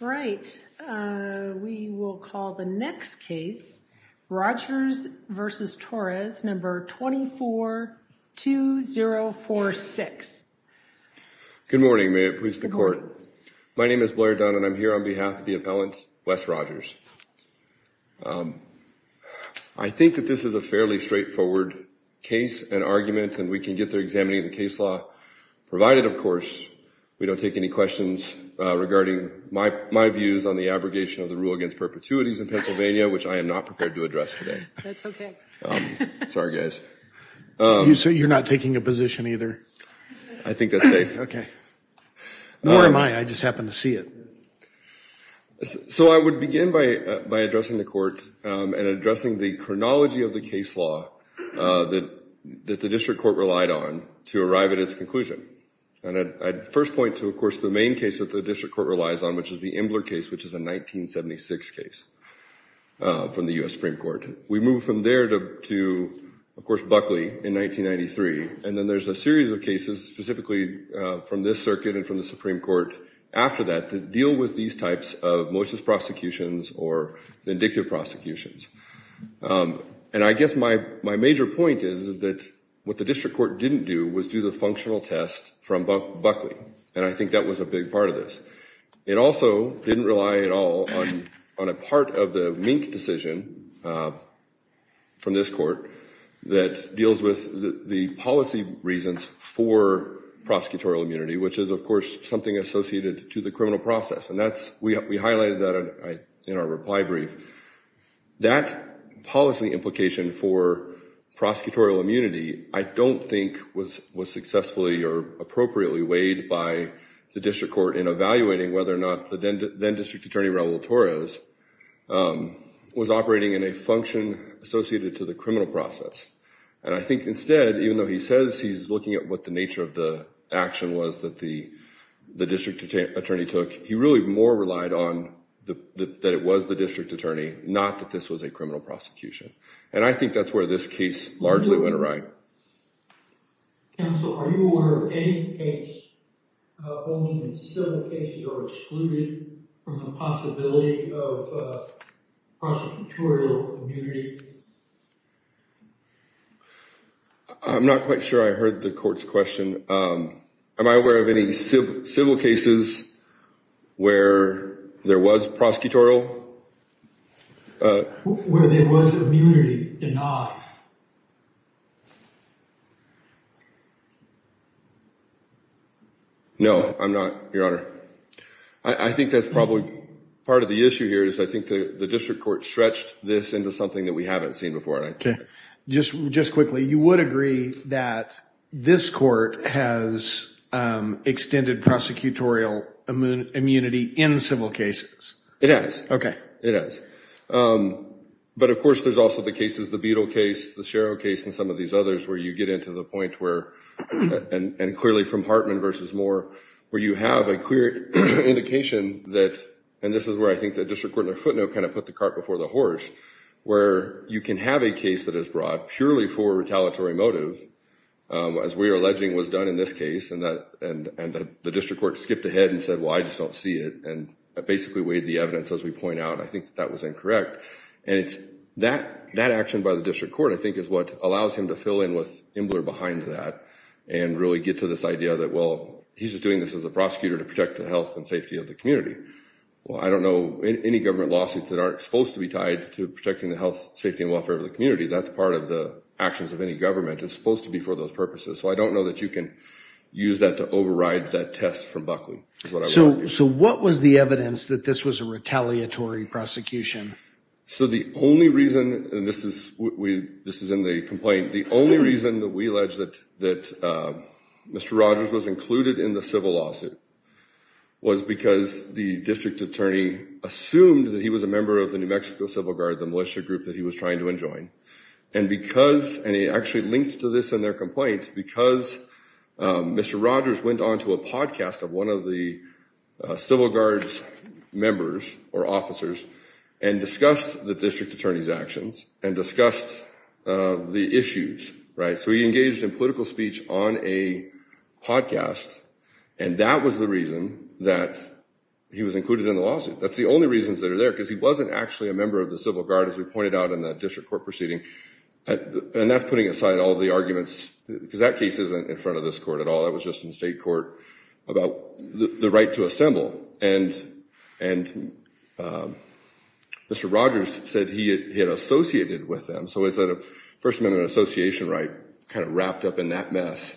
Right. We will call the next case, Rogers v. Torres, number 242046. Good morning. May it please the court. My name is Blair Dunn, and I'm here on behalf of the appellant, Wes Rogers. I think that this is a fairly straightforward case and argument, and we can get there examining the case law, provided, of course, we don't take any questions regarding my views on the abrogation of the rule against perpetuities in Pennsylvania, which I am not prepared to address today. That's okay. Sorry, guys. You're not taking a position either? I think that's safe. Okay. Nor am I. I just happen to see it. So I would begin by addressing the court and addressing the chronology of the case law that the district court relied on to arrive at its conclusion. And I'd first point to, of course, the main case that the district court relies on, which is the Imbler case, which is a 1976 case from the U.S. Supreme Court. We move from there to, of course, Buckley in 1993. And then there's a series of cases specifically from this circuit and from the Supreme Court after that to deal with these types of motionless prosecutions or vindictive prosecutions. And I guess my major point is that what the district court didn't do was do the functional test from Buckley. And I think that was a big part of this. It also didn't rely at all on a part of the Mink decision from this court that deals with the policy reasons for prosecutorial immunity, which is, of course, something associated to the criminal process. And we highlighted that in our reply brief. That policy implication for prosecutorial immunity, I don't think was successfully or appropriately weighed by the district court in evaluating whether or not the then district attorney, Raul Torres, was operating in a function associated to the criminal process. And I think instead, even though he says he's looking at what the nature of the action was that the district attorney took, he really more relied on that it was the district attorney, not that this was a criminal prosecution. And I think that's where this case largely went awry. Counsel, are you aware of any case, only in civil cases, or excluded from the possibility of prosecutorial immunity? I'm not quite sure I heard the court's question. Am I aware of any civil cases where there was prosecutorial? Where there was immunity denied? No, I'm not, Your Honor. I think that's probably part of the issue here is I think the district court stretched this into something that we haven't seen before. Just quickly, you would agree that this court has extended prosecutorial immunity in civil cases? It has. Okay. It has. But of course, there's also the cases, the Beadle case, the Sherrill case, and some of these others where you get into the point where, and clearly from Hartman versus Moore, where you have a clear indication that, and this is where I think the district court in their footnote kind of put the cart before the horse, where you can have a case that is brought purely for retaliatory motive, as we are alleging was done in this case, and the district court skipped ahead and said, well, I just don't see it, and basically weighed the evidence as we point out. I think that was incorrect, and it's that action by the district court, I think, is what allows him to fill in with Imbler behind that and really get to this idea that, well, he's just doing this as a prosecutor to protect the health and safety of the community. Well, I don't know any government lawsuits that aren't supposed to be tied to protecting the health, safety, and welfare of the community. That's part of the actions of any government. It's supposed to be for those purposes. So I don't know that you can use that to override that test from Buckley. So what was the evidence that this was a retaliatory prosecution? So the only reason, and this is in the complaint, the only reason that we allege that Mr. Rogers was included in the civil lawsuit was because the district attorney assumed that he was a member of the New Mexico Civil Guard, the militia group that he was trying to enjoin, and because, and it actually linked to this in their complaint, because Mr. Rogers went on to a podcast of one of the Civil Guard's members or officers and discussed the district attorney's actions and discussed the issues, right? So he engaged in political speech on a podcast, and that was the reason that he was included in the lawsuit. That's the only reasons that are there, because he wasn't actually a member of the Civil Guard, as we pointed out in that district court proceeding, and that's putting aside all the arguments, because that case isn't in front of this court at all. That was just in state court about the right to assemble, and Mr. Rogers said he had associated with them, so it's a First Amendment association, right, kind of wrapped up in that mess.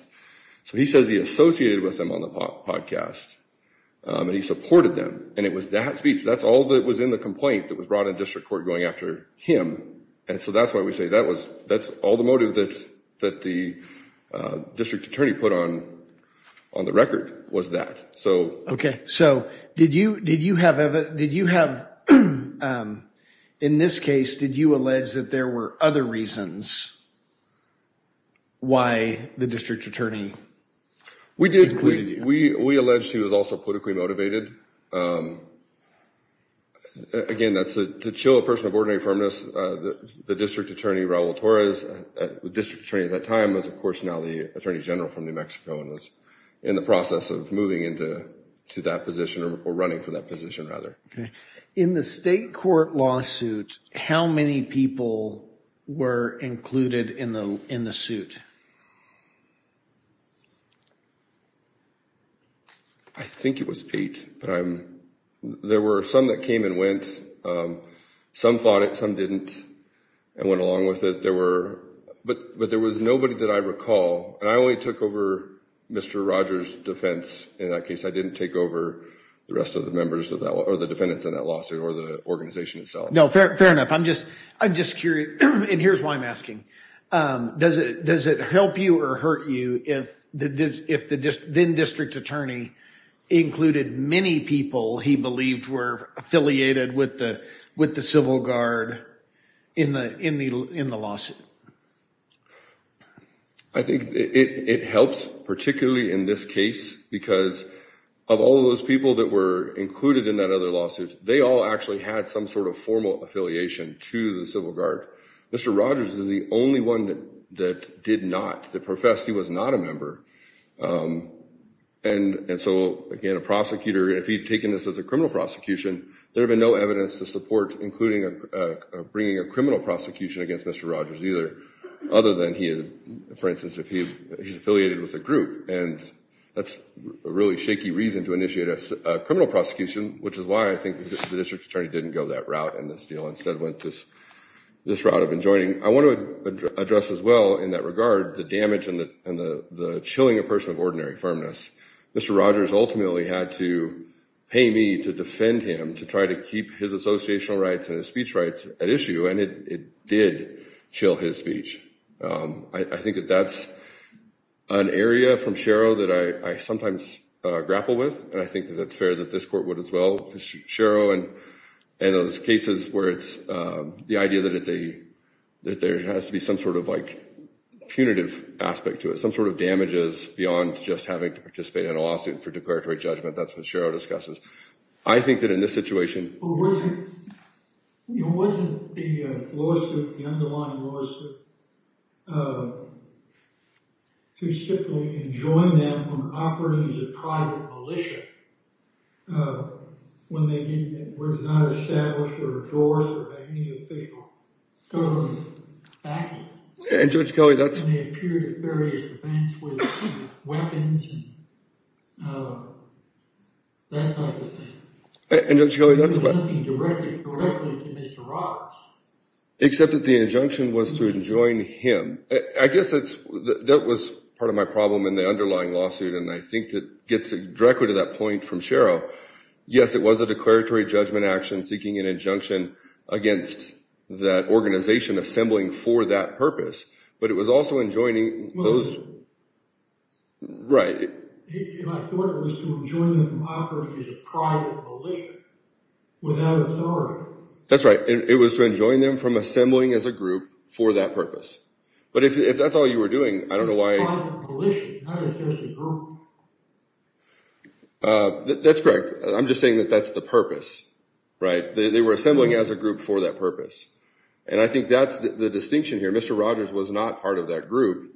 So he says he associated with them on the podcast, and he supported them, and it was that speech. That's all that was in the complaint that was brought in district court going after him, and so that's why we say that's all the motive that the district attorney put on. On the record was that, so. Okay, so did you have, in this case, did you allege that there were other reasons why the district attorney included you? We alleged he was also politically motivated. Again, to chill a person of ordinary firmness, the district attorney, Raul Torres, the district attorney at that time was, of course, now the attorney general from New Mexico, and was in the process of moving into that position, or running for that position, rather. Okay. In the state court lawsuit, how many people were included in the suit? I think it was eight, but there were some that came and went. Some fought it, some didn't, and went along with it. But there was nobody that I recall, and I only took over Mr. Rogers' defense in that case. I didn't take over the rest of the members of that, or the defendants in that lawsuit, or the organization itself. No, fair enough. I'm just curious, and here's why I'm asking. Does it help you or hurt you if the then district attorney included many people he believed were affiliated with the Civil Guard in the lawsuit? I think it helps, particularly in this case, because of all those people that were included in that other lawsuit, they all actually had some sort of formal affiliation to the Civil Guard. Mr. Rogers is the only one that did not, that professed he was not a member. And so, again, a prosecutor, if he'd taken this as a criminal prosecution, there'd have been no evidence to support including bringing a criminal prosecution against Mr. Rogers either, other than he is, for instance, if he's affiliated with a group. And that's a really shaky reason to initiate a criminal prosecution, which is why I think the district attorney didn't go that route in this deal, instead went this route of enjoining. I want to address as well, in that regard, the damage and the chilling a person of ordinary firmness. Mr. Rogers ultimately had to pay me to defend him, to try to keep his associational rights and his speech rights at issue, and it did chill his speech. I think that that's an area from Shero that I sometimes grapple with, and I think that it's fair that this court would as well. Shero and those cases where it's the idea that there has to be some sort of punitive aspect to it, some sort of damages beyond just having to participate in a lawsuit for declaratory judgment, that's what Shero discusses. I think that in this situation... Well, wasn't the lawsuit, the underlying lawsuit, to simply enjoin them from operating as a private militia, when they were not established, or endorsed, or had any official government backing? And Judge Kelly, that's... And they appeared at various events with weapons and that type of thing. And Judge Kelly, that's... Injuncting directly to Mr. Rogers. Except that the injunction was to enjoin him. I guess that was part of my problem in the underlying lawsuit, and I think that gets directly to that point from Shero. Yes, it was a declaratory judgment action seeking an injunction against that organization assembling for that purpose, but it was also enjoining those... Right. And I thought it was to enjoin them from operating as a private militia without authority. That's right. It was to enjoin them from assembling as a group for that purpose. But if that's all you were doing, I don't know why... It's a private militia, not just a group. That's correct. I'm just saying that that's the purpose, right? They were assembling as a group for that purpose. And I think that's the distinction here. Mr. Rogers was not part of that group.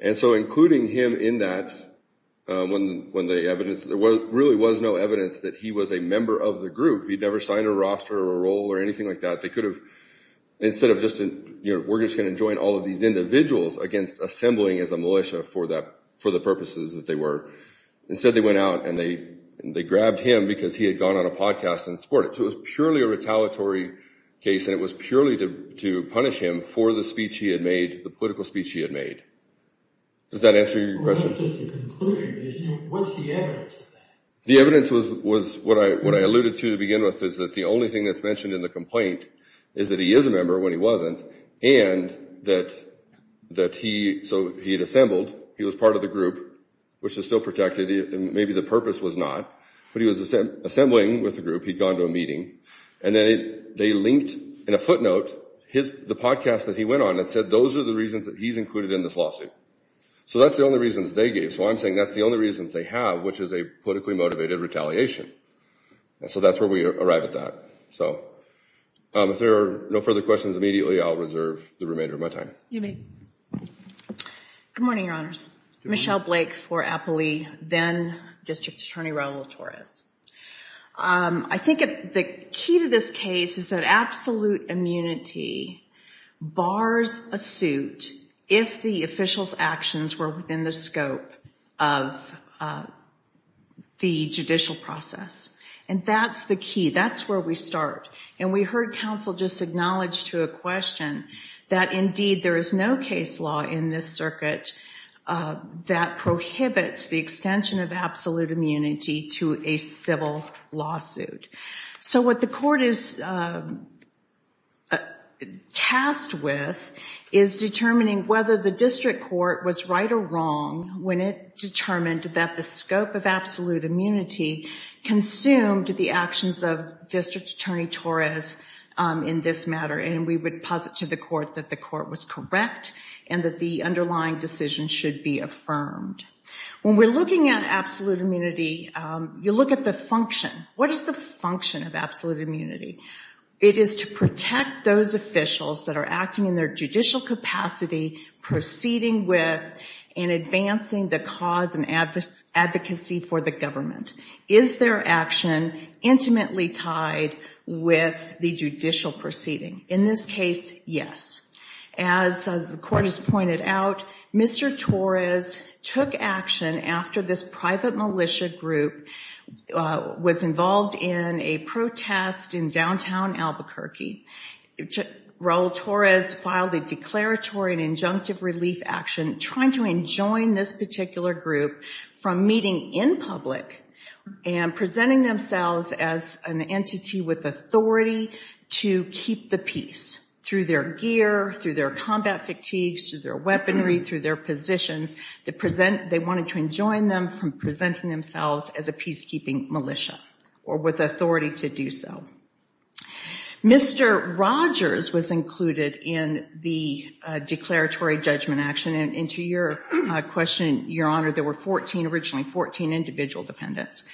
And so including him in that when the evidence... There really was no evidence that he was a member of the group. He'd never signed a roster or a role or anything like that. They could have... Instead of just, you know, we're just going to join all of these individuals against assembling as a militia for the purposes that they were. Instead, they went out and they grabbed him because he had gone on a podcast and supported. So it was purely a retaliatory case, and it was purely to punish him for the speech he had made, the political speech he had made. Does that answer your question? Just to conclude, what's the evidence of that? The evidence was what I alluded to to begin with, is that the only thing that's mentioned in the complaint is that he is a member when he wasn't and that he... So he had assembled. He was part of the group, which is still protected, and maybe the purpose was not. But he was assembling with the group. He'd gone to a meeting. And then they linked in a footnote the podcast that he went on that said those are the reasons that he's included in this lawsuit. So that's the only reasons they gave. So I'm saying that's the only reasons they have, which is a politically motivated retaliation. And so that's where we arrived at that. So if there are no further questions, immediately, I'll reserve the remainder of my time. You may. Good morning, Your Honors. Michelle Blake for Appley, then District Attorney Raul Torres. I think the key to this case is that absolute immunity bars a suit if the official's actions were within the scope of the judicial process. And that's the key. That's where we start. And we heard counsel just acknowledge to a question that, indeed, there is no case law in this circuit that prohibits the extension of absolute immunity to a civil lawsuit. So what the court is tasked with is determining whether the district court was right or wrong when it determined that the scope of absolute immunity consumed the actions of District Attorney Torres in this matter. And we would posit to the court that the court was correct and that the underlying decision should be affirmed. When we're looking at absolute immunity, you look at the function. What is the function of absolute immunity? It is to protect those officials that are acting in their judicial capacity, proceeding with, and advancing the cause and advocacy for the government. Is their action intimately tied with the judicial proceeding? In this case, yes. As the court has pointed out, Mr. Torres took action after this private militia group was involved in a protest in downtown Albuquerque. Raul Torres filed a declaratory and injunctive relief action trying to enjoin this particular group from meeting in public and presenting themselves as an entity with authority to keep the peace through their gear, through their combat fatigues, through their weaponry, through their positions. They wanted to enjoin them from presenting themselves as a peacekeeping militia or with authority to do so. Mr. Rogers was included in the declaratory judgment action. And to your question, Your Honor, there were 14, originally 14 individual defendants.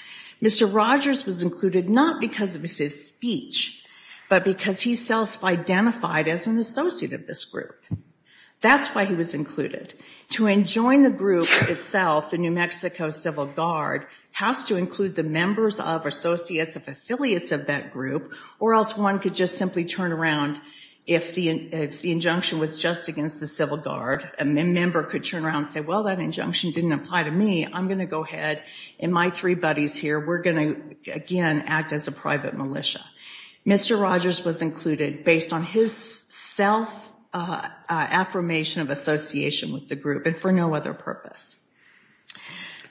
Mr. Rogers was included not because of his speech, but because he self-identified as an associate of this group. That's why he was included. To enjoin the group itself, the New Mexico Civil Guard has to include the members of, associates of, affiliates of that group or else one could just simply turn around. If the injunction was just against the Civil Guard, a member could turn around and say, well, that injunction didn't apply to me. I'm going to go ahead and my three buddies here, we're going to, again, act as a private militia. Mr. Rogers was included based on his self-affirmation of association with the group and for no other purpose.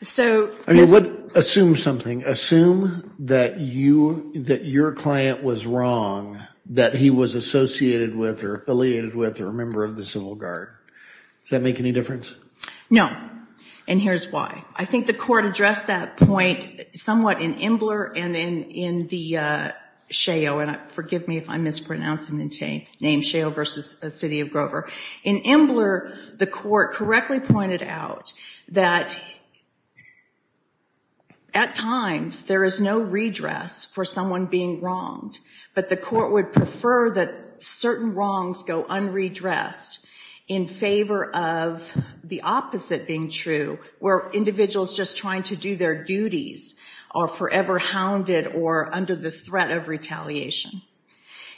So... I mean, what, assume something. Assume that you, that your client was wrong, that he was associated with or affiliated with or a member of the Civil Guard. Does that make any difference? No. And here's why. I think the court addressed that point somewhat in Imbler and then in the Sheo, and forgive me if I'm mispronouncing the name, Sheo versus the City of Grover. In Imbler, the court correctly pointed out that at times there is no redress for someone being wronged, but the court would prefer that certain wrongs go unredressed in favor of the opposite being true, where individuals just trying to do their duties are forever hounded or under the threat of retaliation.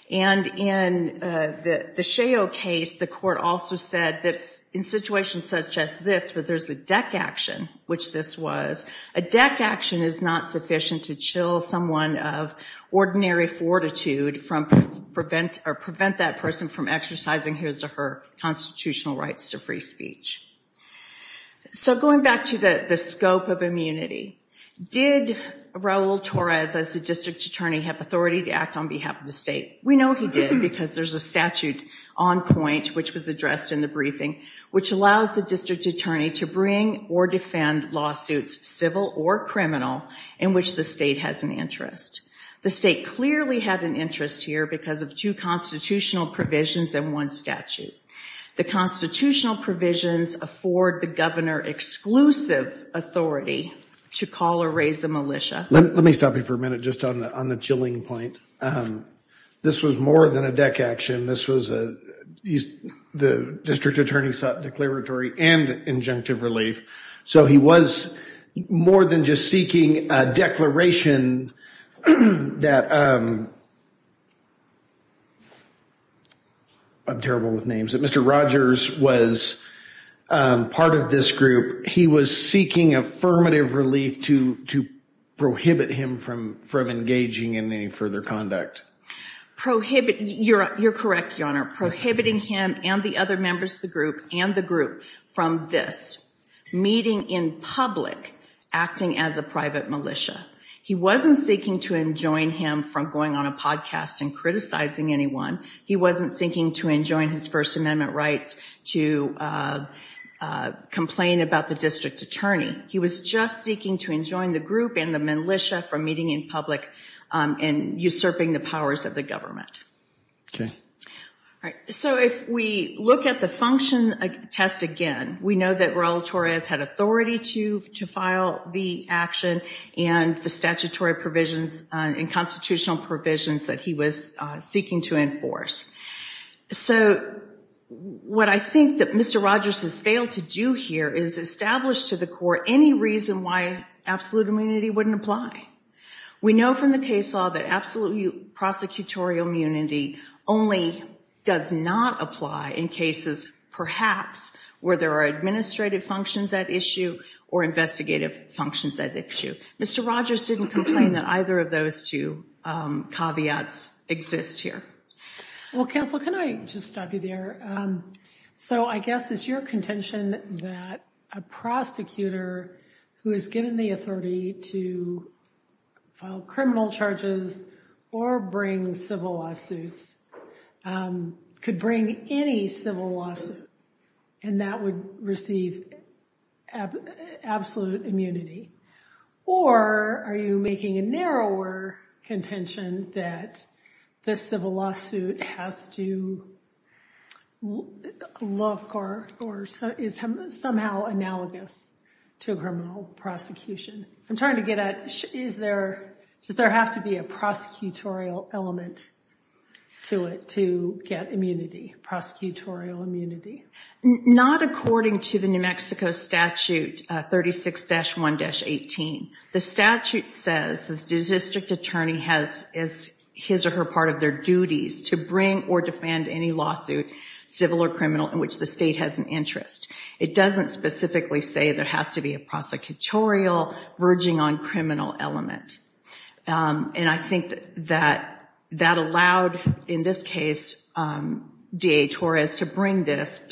And in the Sheo case, the court also said that in situations such as this, where there's a deck action, which this was, a deck action is not sufficient to chill someone of ordinary fortitude from prevent, or prevent that person from exercising his or her constitutional rights to free speech. So going back to the scope of immunity, did Raul Torres, as the district attorney, have authority to act on behalf of the state? We know he did because there's a statute on point, which was addressed in the briefing, which allows the district attorney to bring or defend lawsuits, civil or criminal, in which the state has an interest. The state clearly had an interest here because of two constitutional provisions and one statute. The constitutional provisions afford the governor exclusive authority to call or raise a militia. Let me stop you for a minute just on the chilling point. This was more than a deck action. This was a, the district attorney sought declaratory and injunctive relief. So he was more than just seeking a declaration that, I'm terrible with names. Mr. Rogers was part of this group. He was seeking affirmative relief to prohibit him from engaging in any further conduct. Prohibit, you're correct, your honor. Prohibiting him and the other members of the group and the group from this, meeting in public, acting as a private militia. He wasn't seeking to enjoin him from going on a podcast and criticizing anyone. He wasn't seeking to enjoin his first amendment rights to complain about the district attorney. He was just seeking to enjoin the group and the militia from meeting in public and usurping the powers of the government. Okay. All right. So if we look at the function test again, we know that Raul Torres had authority to file the action and the statutory provisions and constitutional provisions that he was seeking to enforce. So what I think that Mr. Rogers has failed to do here is establish to the court any reason why absolute immunity wouldn't apply. We know from the case law that absolute prosecutorial immunity only does not apply in cases perhaps where there are administrative functions at issue or investigative functions at issue. Mr. Rogers didn't complain that either of those two caveats exist here. Well, counsel, can I just stop you there? So I guess it's your contention that a prosecutor who is given the authority to file criminal charges or bring civil lawsuits could bring any civil lawsuit and that would receive absolute immunity. Or are you making a narrower contention that the civil lawsuit has to look or is somehow analogous to a criminal prosecution? I'm trying to get at, does there have to be a prosecutorial element to it to get immunity, prosecutorial immunity? Not according to the New Mexico statute 36-1-18. The statute says the district attorney has his or her part of their duties to bring or defend any lawsuit, civil or criminal, in which the state has an interest. It doesn't specifically say there has to be a prosecutorial verging on criminal element. And I think that that allowed, in this case, DA Torres to bring this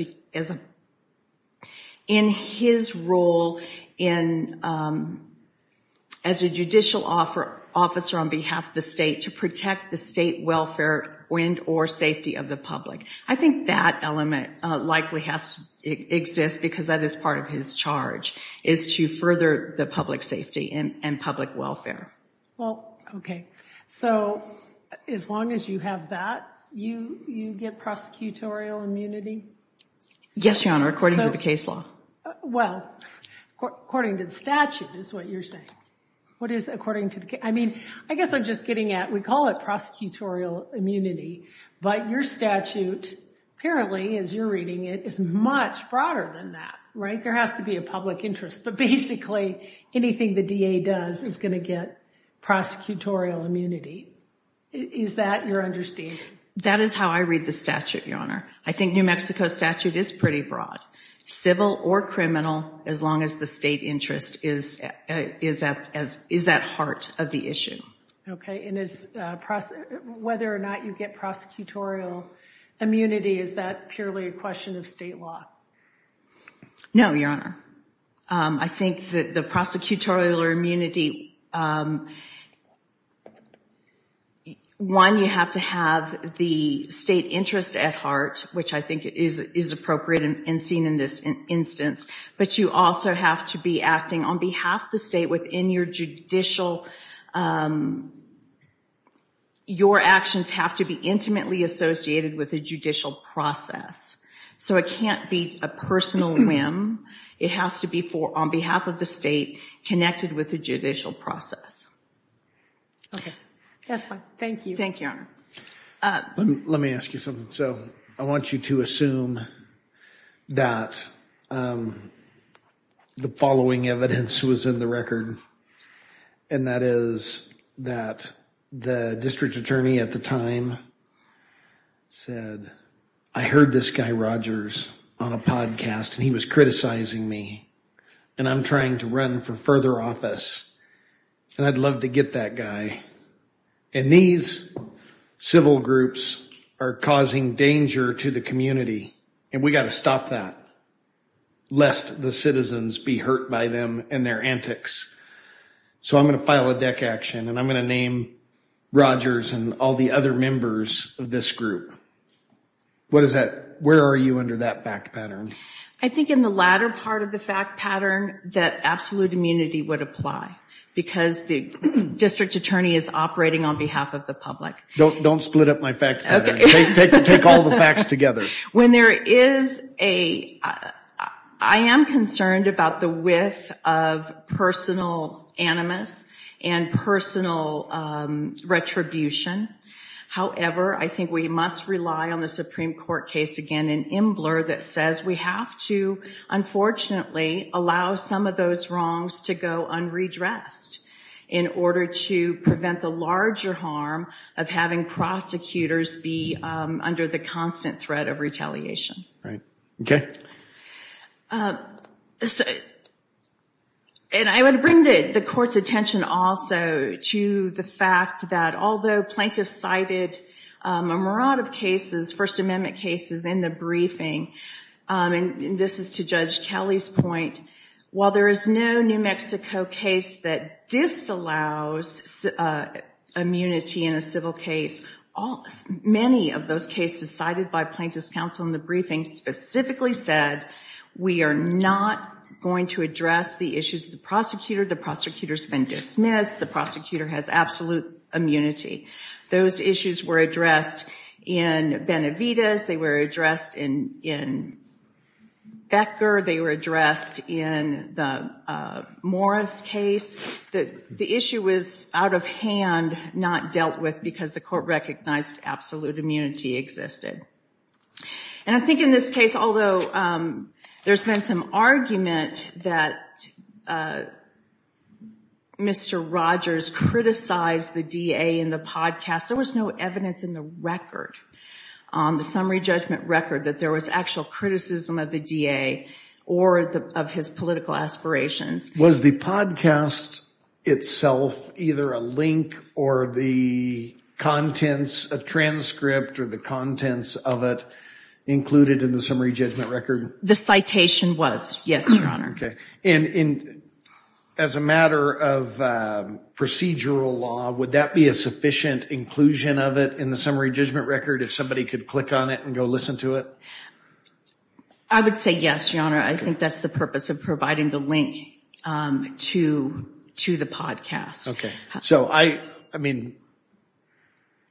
in his role as a judicial officer on behalf of the state to protect the state welfare and or safety of the public. I think that element likely has to exist because that is part of his charge, is to further the public safety and public welfare. Well, okay. So as long as you have that, you get prosecutorial immunity? Yes, Your Honor, according to the case law. Well, according to the statute is what you're saying. What is according to the case? I mean, I guess I'm just getting at, we call it prosecutorial immunity, but your statute apparently, as you're reading it, is much broader than that, right? There has to be a public interest. But basically, anything the DA does is going to get prosecutorial immunity. Is that your understanding? That is how I read the statute, Your Honor. I think New Mexico statute is pretty broad. Civil or criminal, as long as the state interest is at heart of the issue. Okay. Whether or not you get prosecutorial immunity, is that purely a question of state law? No, Your Honor. I think that the prosecutorial immunity, one, you have to have the state interest at heart, which I think is appropriate and seen in this instance. But you also have to be acting on behalf of the state within your judicial, your actions have to be intimately associated with the judicial process. So it can't be a personal whim. It has to be on behalf of the state connected with the judicial process. Okay. That's fine. Thank you. Thank you, Your Honor. Let me ask you something. So I want you to assume that the following evidence was in the record, and that is that the district attorney at the time said, I heard this guy Rogers on a podcast and he was criticizing me and I'm trying to run for further office and I'd love to get that guy. And these civil groups are causing danger to the community. And we got to stop that. Lest the citizens be hurt by them and their antics. So I'm going to file a deck action and I'm going to name Rogers and all the other members of this group. What is that? Where are you under that fact pattern? I think in the latter part of the fact pattern, that absolute immunity would apply because the district attorney is operating on behalf of the public. Don't split up my facts. Take all the facts together. When there is a, I am concerned about the width of personal animus and personal retribution. However, I think we must rely on the Supreme Court case, again, an imbler that says we have to, unfortunately, allow some of those wrongs to go unredressed in order to prevent the larger harm of having prosecutors be under the constant threat of retaliation. Right. Okay. And I would bring the court's attention also to the fact that although plaintiffs cited a maraud of cases, First Amendment cases in the briefing, and this is to Judge Kelly's point, while there is no New Mexico case that disallows immunity in a civil case, many of those cases cited by plaintiffs counsel in the briefing specifically said, we are not going to address the issues of the prosecutor. The prosecutor's been dismissed. The prosecutor has absolute immunity. Those issues were addressed in Benavides. They were addressed in Becker. They were addressed in the Morris case. The issue was out of hand, not dealt with because the court recognized absolute immunity existed. And I think in this case, although there's been some argument that Mr. Rogers criticized the DA in the podcast, there was no evidence in the record, the summary judgment record, that there was actual criticism of the DA or of his political aspirations. Was the podcast itself either a link or the contents, a transcript or the contents of it included in the summary judgment record? The citation was, yes, Your Honor. Okay, and as a matter of procedural law, would that be a sufficient inclusion of it in the summary judgment record if somebody could click on it and go listen to it? I would say yes, Your Honor. I think that's the purpose of providing the link to the podcast. Okay, so I mean,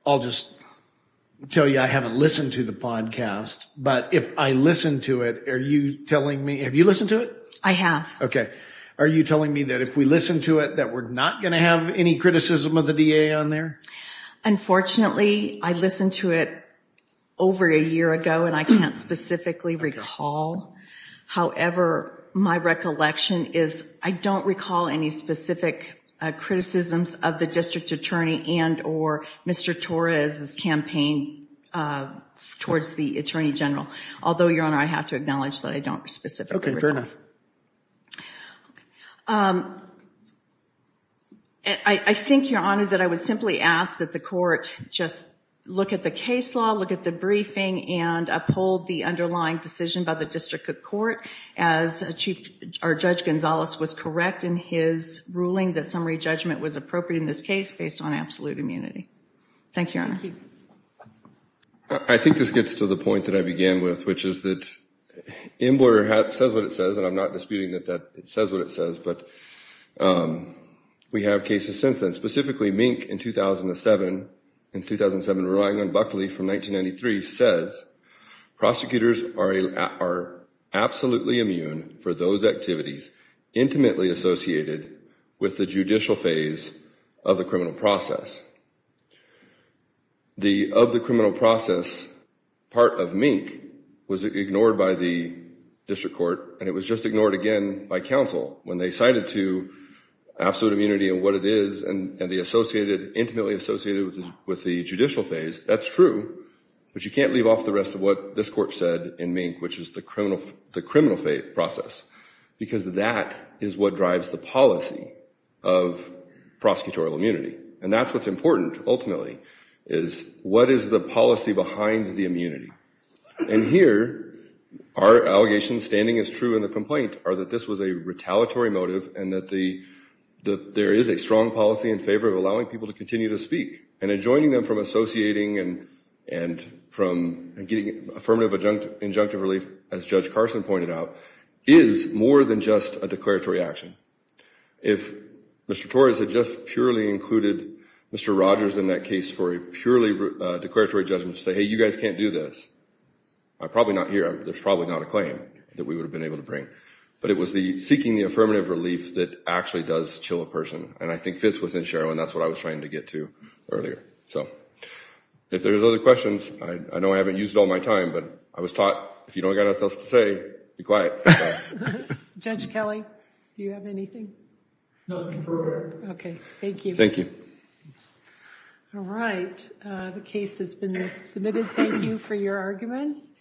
I'll just tell you I haven't listened to the podcast, but if I listen to it, are you telling me, have you listened to it? I have. Okay, are you telling me that if we listen to it, that we're not going to have any criticism of the DA on there? Unfortunately, I listened to it over a year ago and I can't specifically recall. However, my recollection is I don't recall any specific criticisms of the District Attorney and or Mr. Torres's campaign towards the Attorney General. Although, Your Honor, I have to acknowledge that I don't specifically recall. Okay, fair enough. I think, Your Honor, that I would simply ask that the court just look at the case law, look at the briefing and uphold the underlying decision by the District Court as Chief or Judge Gonzalez was correct in his ruling that summary judgment was appropriate in this case based on absolute immunity. Thank you, Your Honor. I think this gets to the point that I began with, which is that Inboarder says what it says, and I'm not disputing that it says what it says, but we have cases since then. Specifically, Mink in 2007, relying on Buckley from 1993, says prosecutors are absolutely immune for those activities intimately associated with the judicial phase of the criminal process. Of the criminal process, part of Mink was ignored by the District Court and it was just ignored again by counsel when they cited to absolute immunity and what it is and the associated, intimately associated with the judicial phase. That's true, but you can't leave off the rest of what this court said in Mink, which is the criminal phase process because that is what drives the policy of prosecutorial immunity. And that's what's important, ultimately, is what is the policy behind the immunity? And here, our allegations standing as true in the complaint are that this was a retaliatory motive and that there is a strong policy in favor of allowing people to continue to speak and enjoining them from associating and from getting affirmative injunctive relief, as Judge Carson pointed out, is more than just a declaratory action. If Mr. Torres had just purely included Mr. Rogers in that case for a purely declaratory judgment to say, hey, you guys can't do this, I'd probably not hear, there's probably not a claim that we would have been able to bring, but it was the seeking the affirmative relief that actually does chill a person and I think fits within Sherrill and that's what I was trying to get to earlier. So, if there's other questions, I know I haven't used all my time, but I was taught if you don't got anything else to say, be quiet. Judge Kelly, do you have anything? Nothing further. Okay, thank you. Thank you. All right, the case has been submitted. Thank you for your arguments.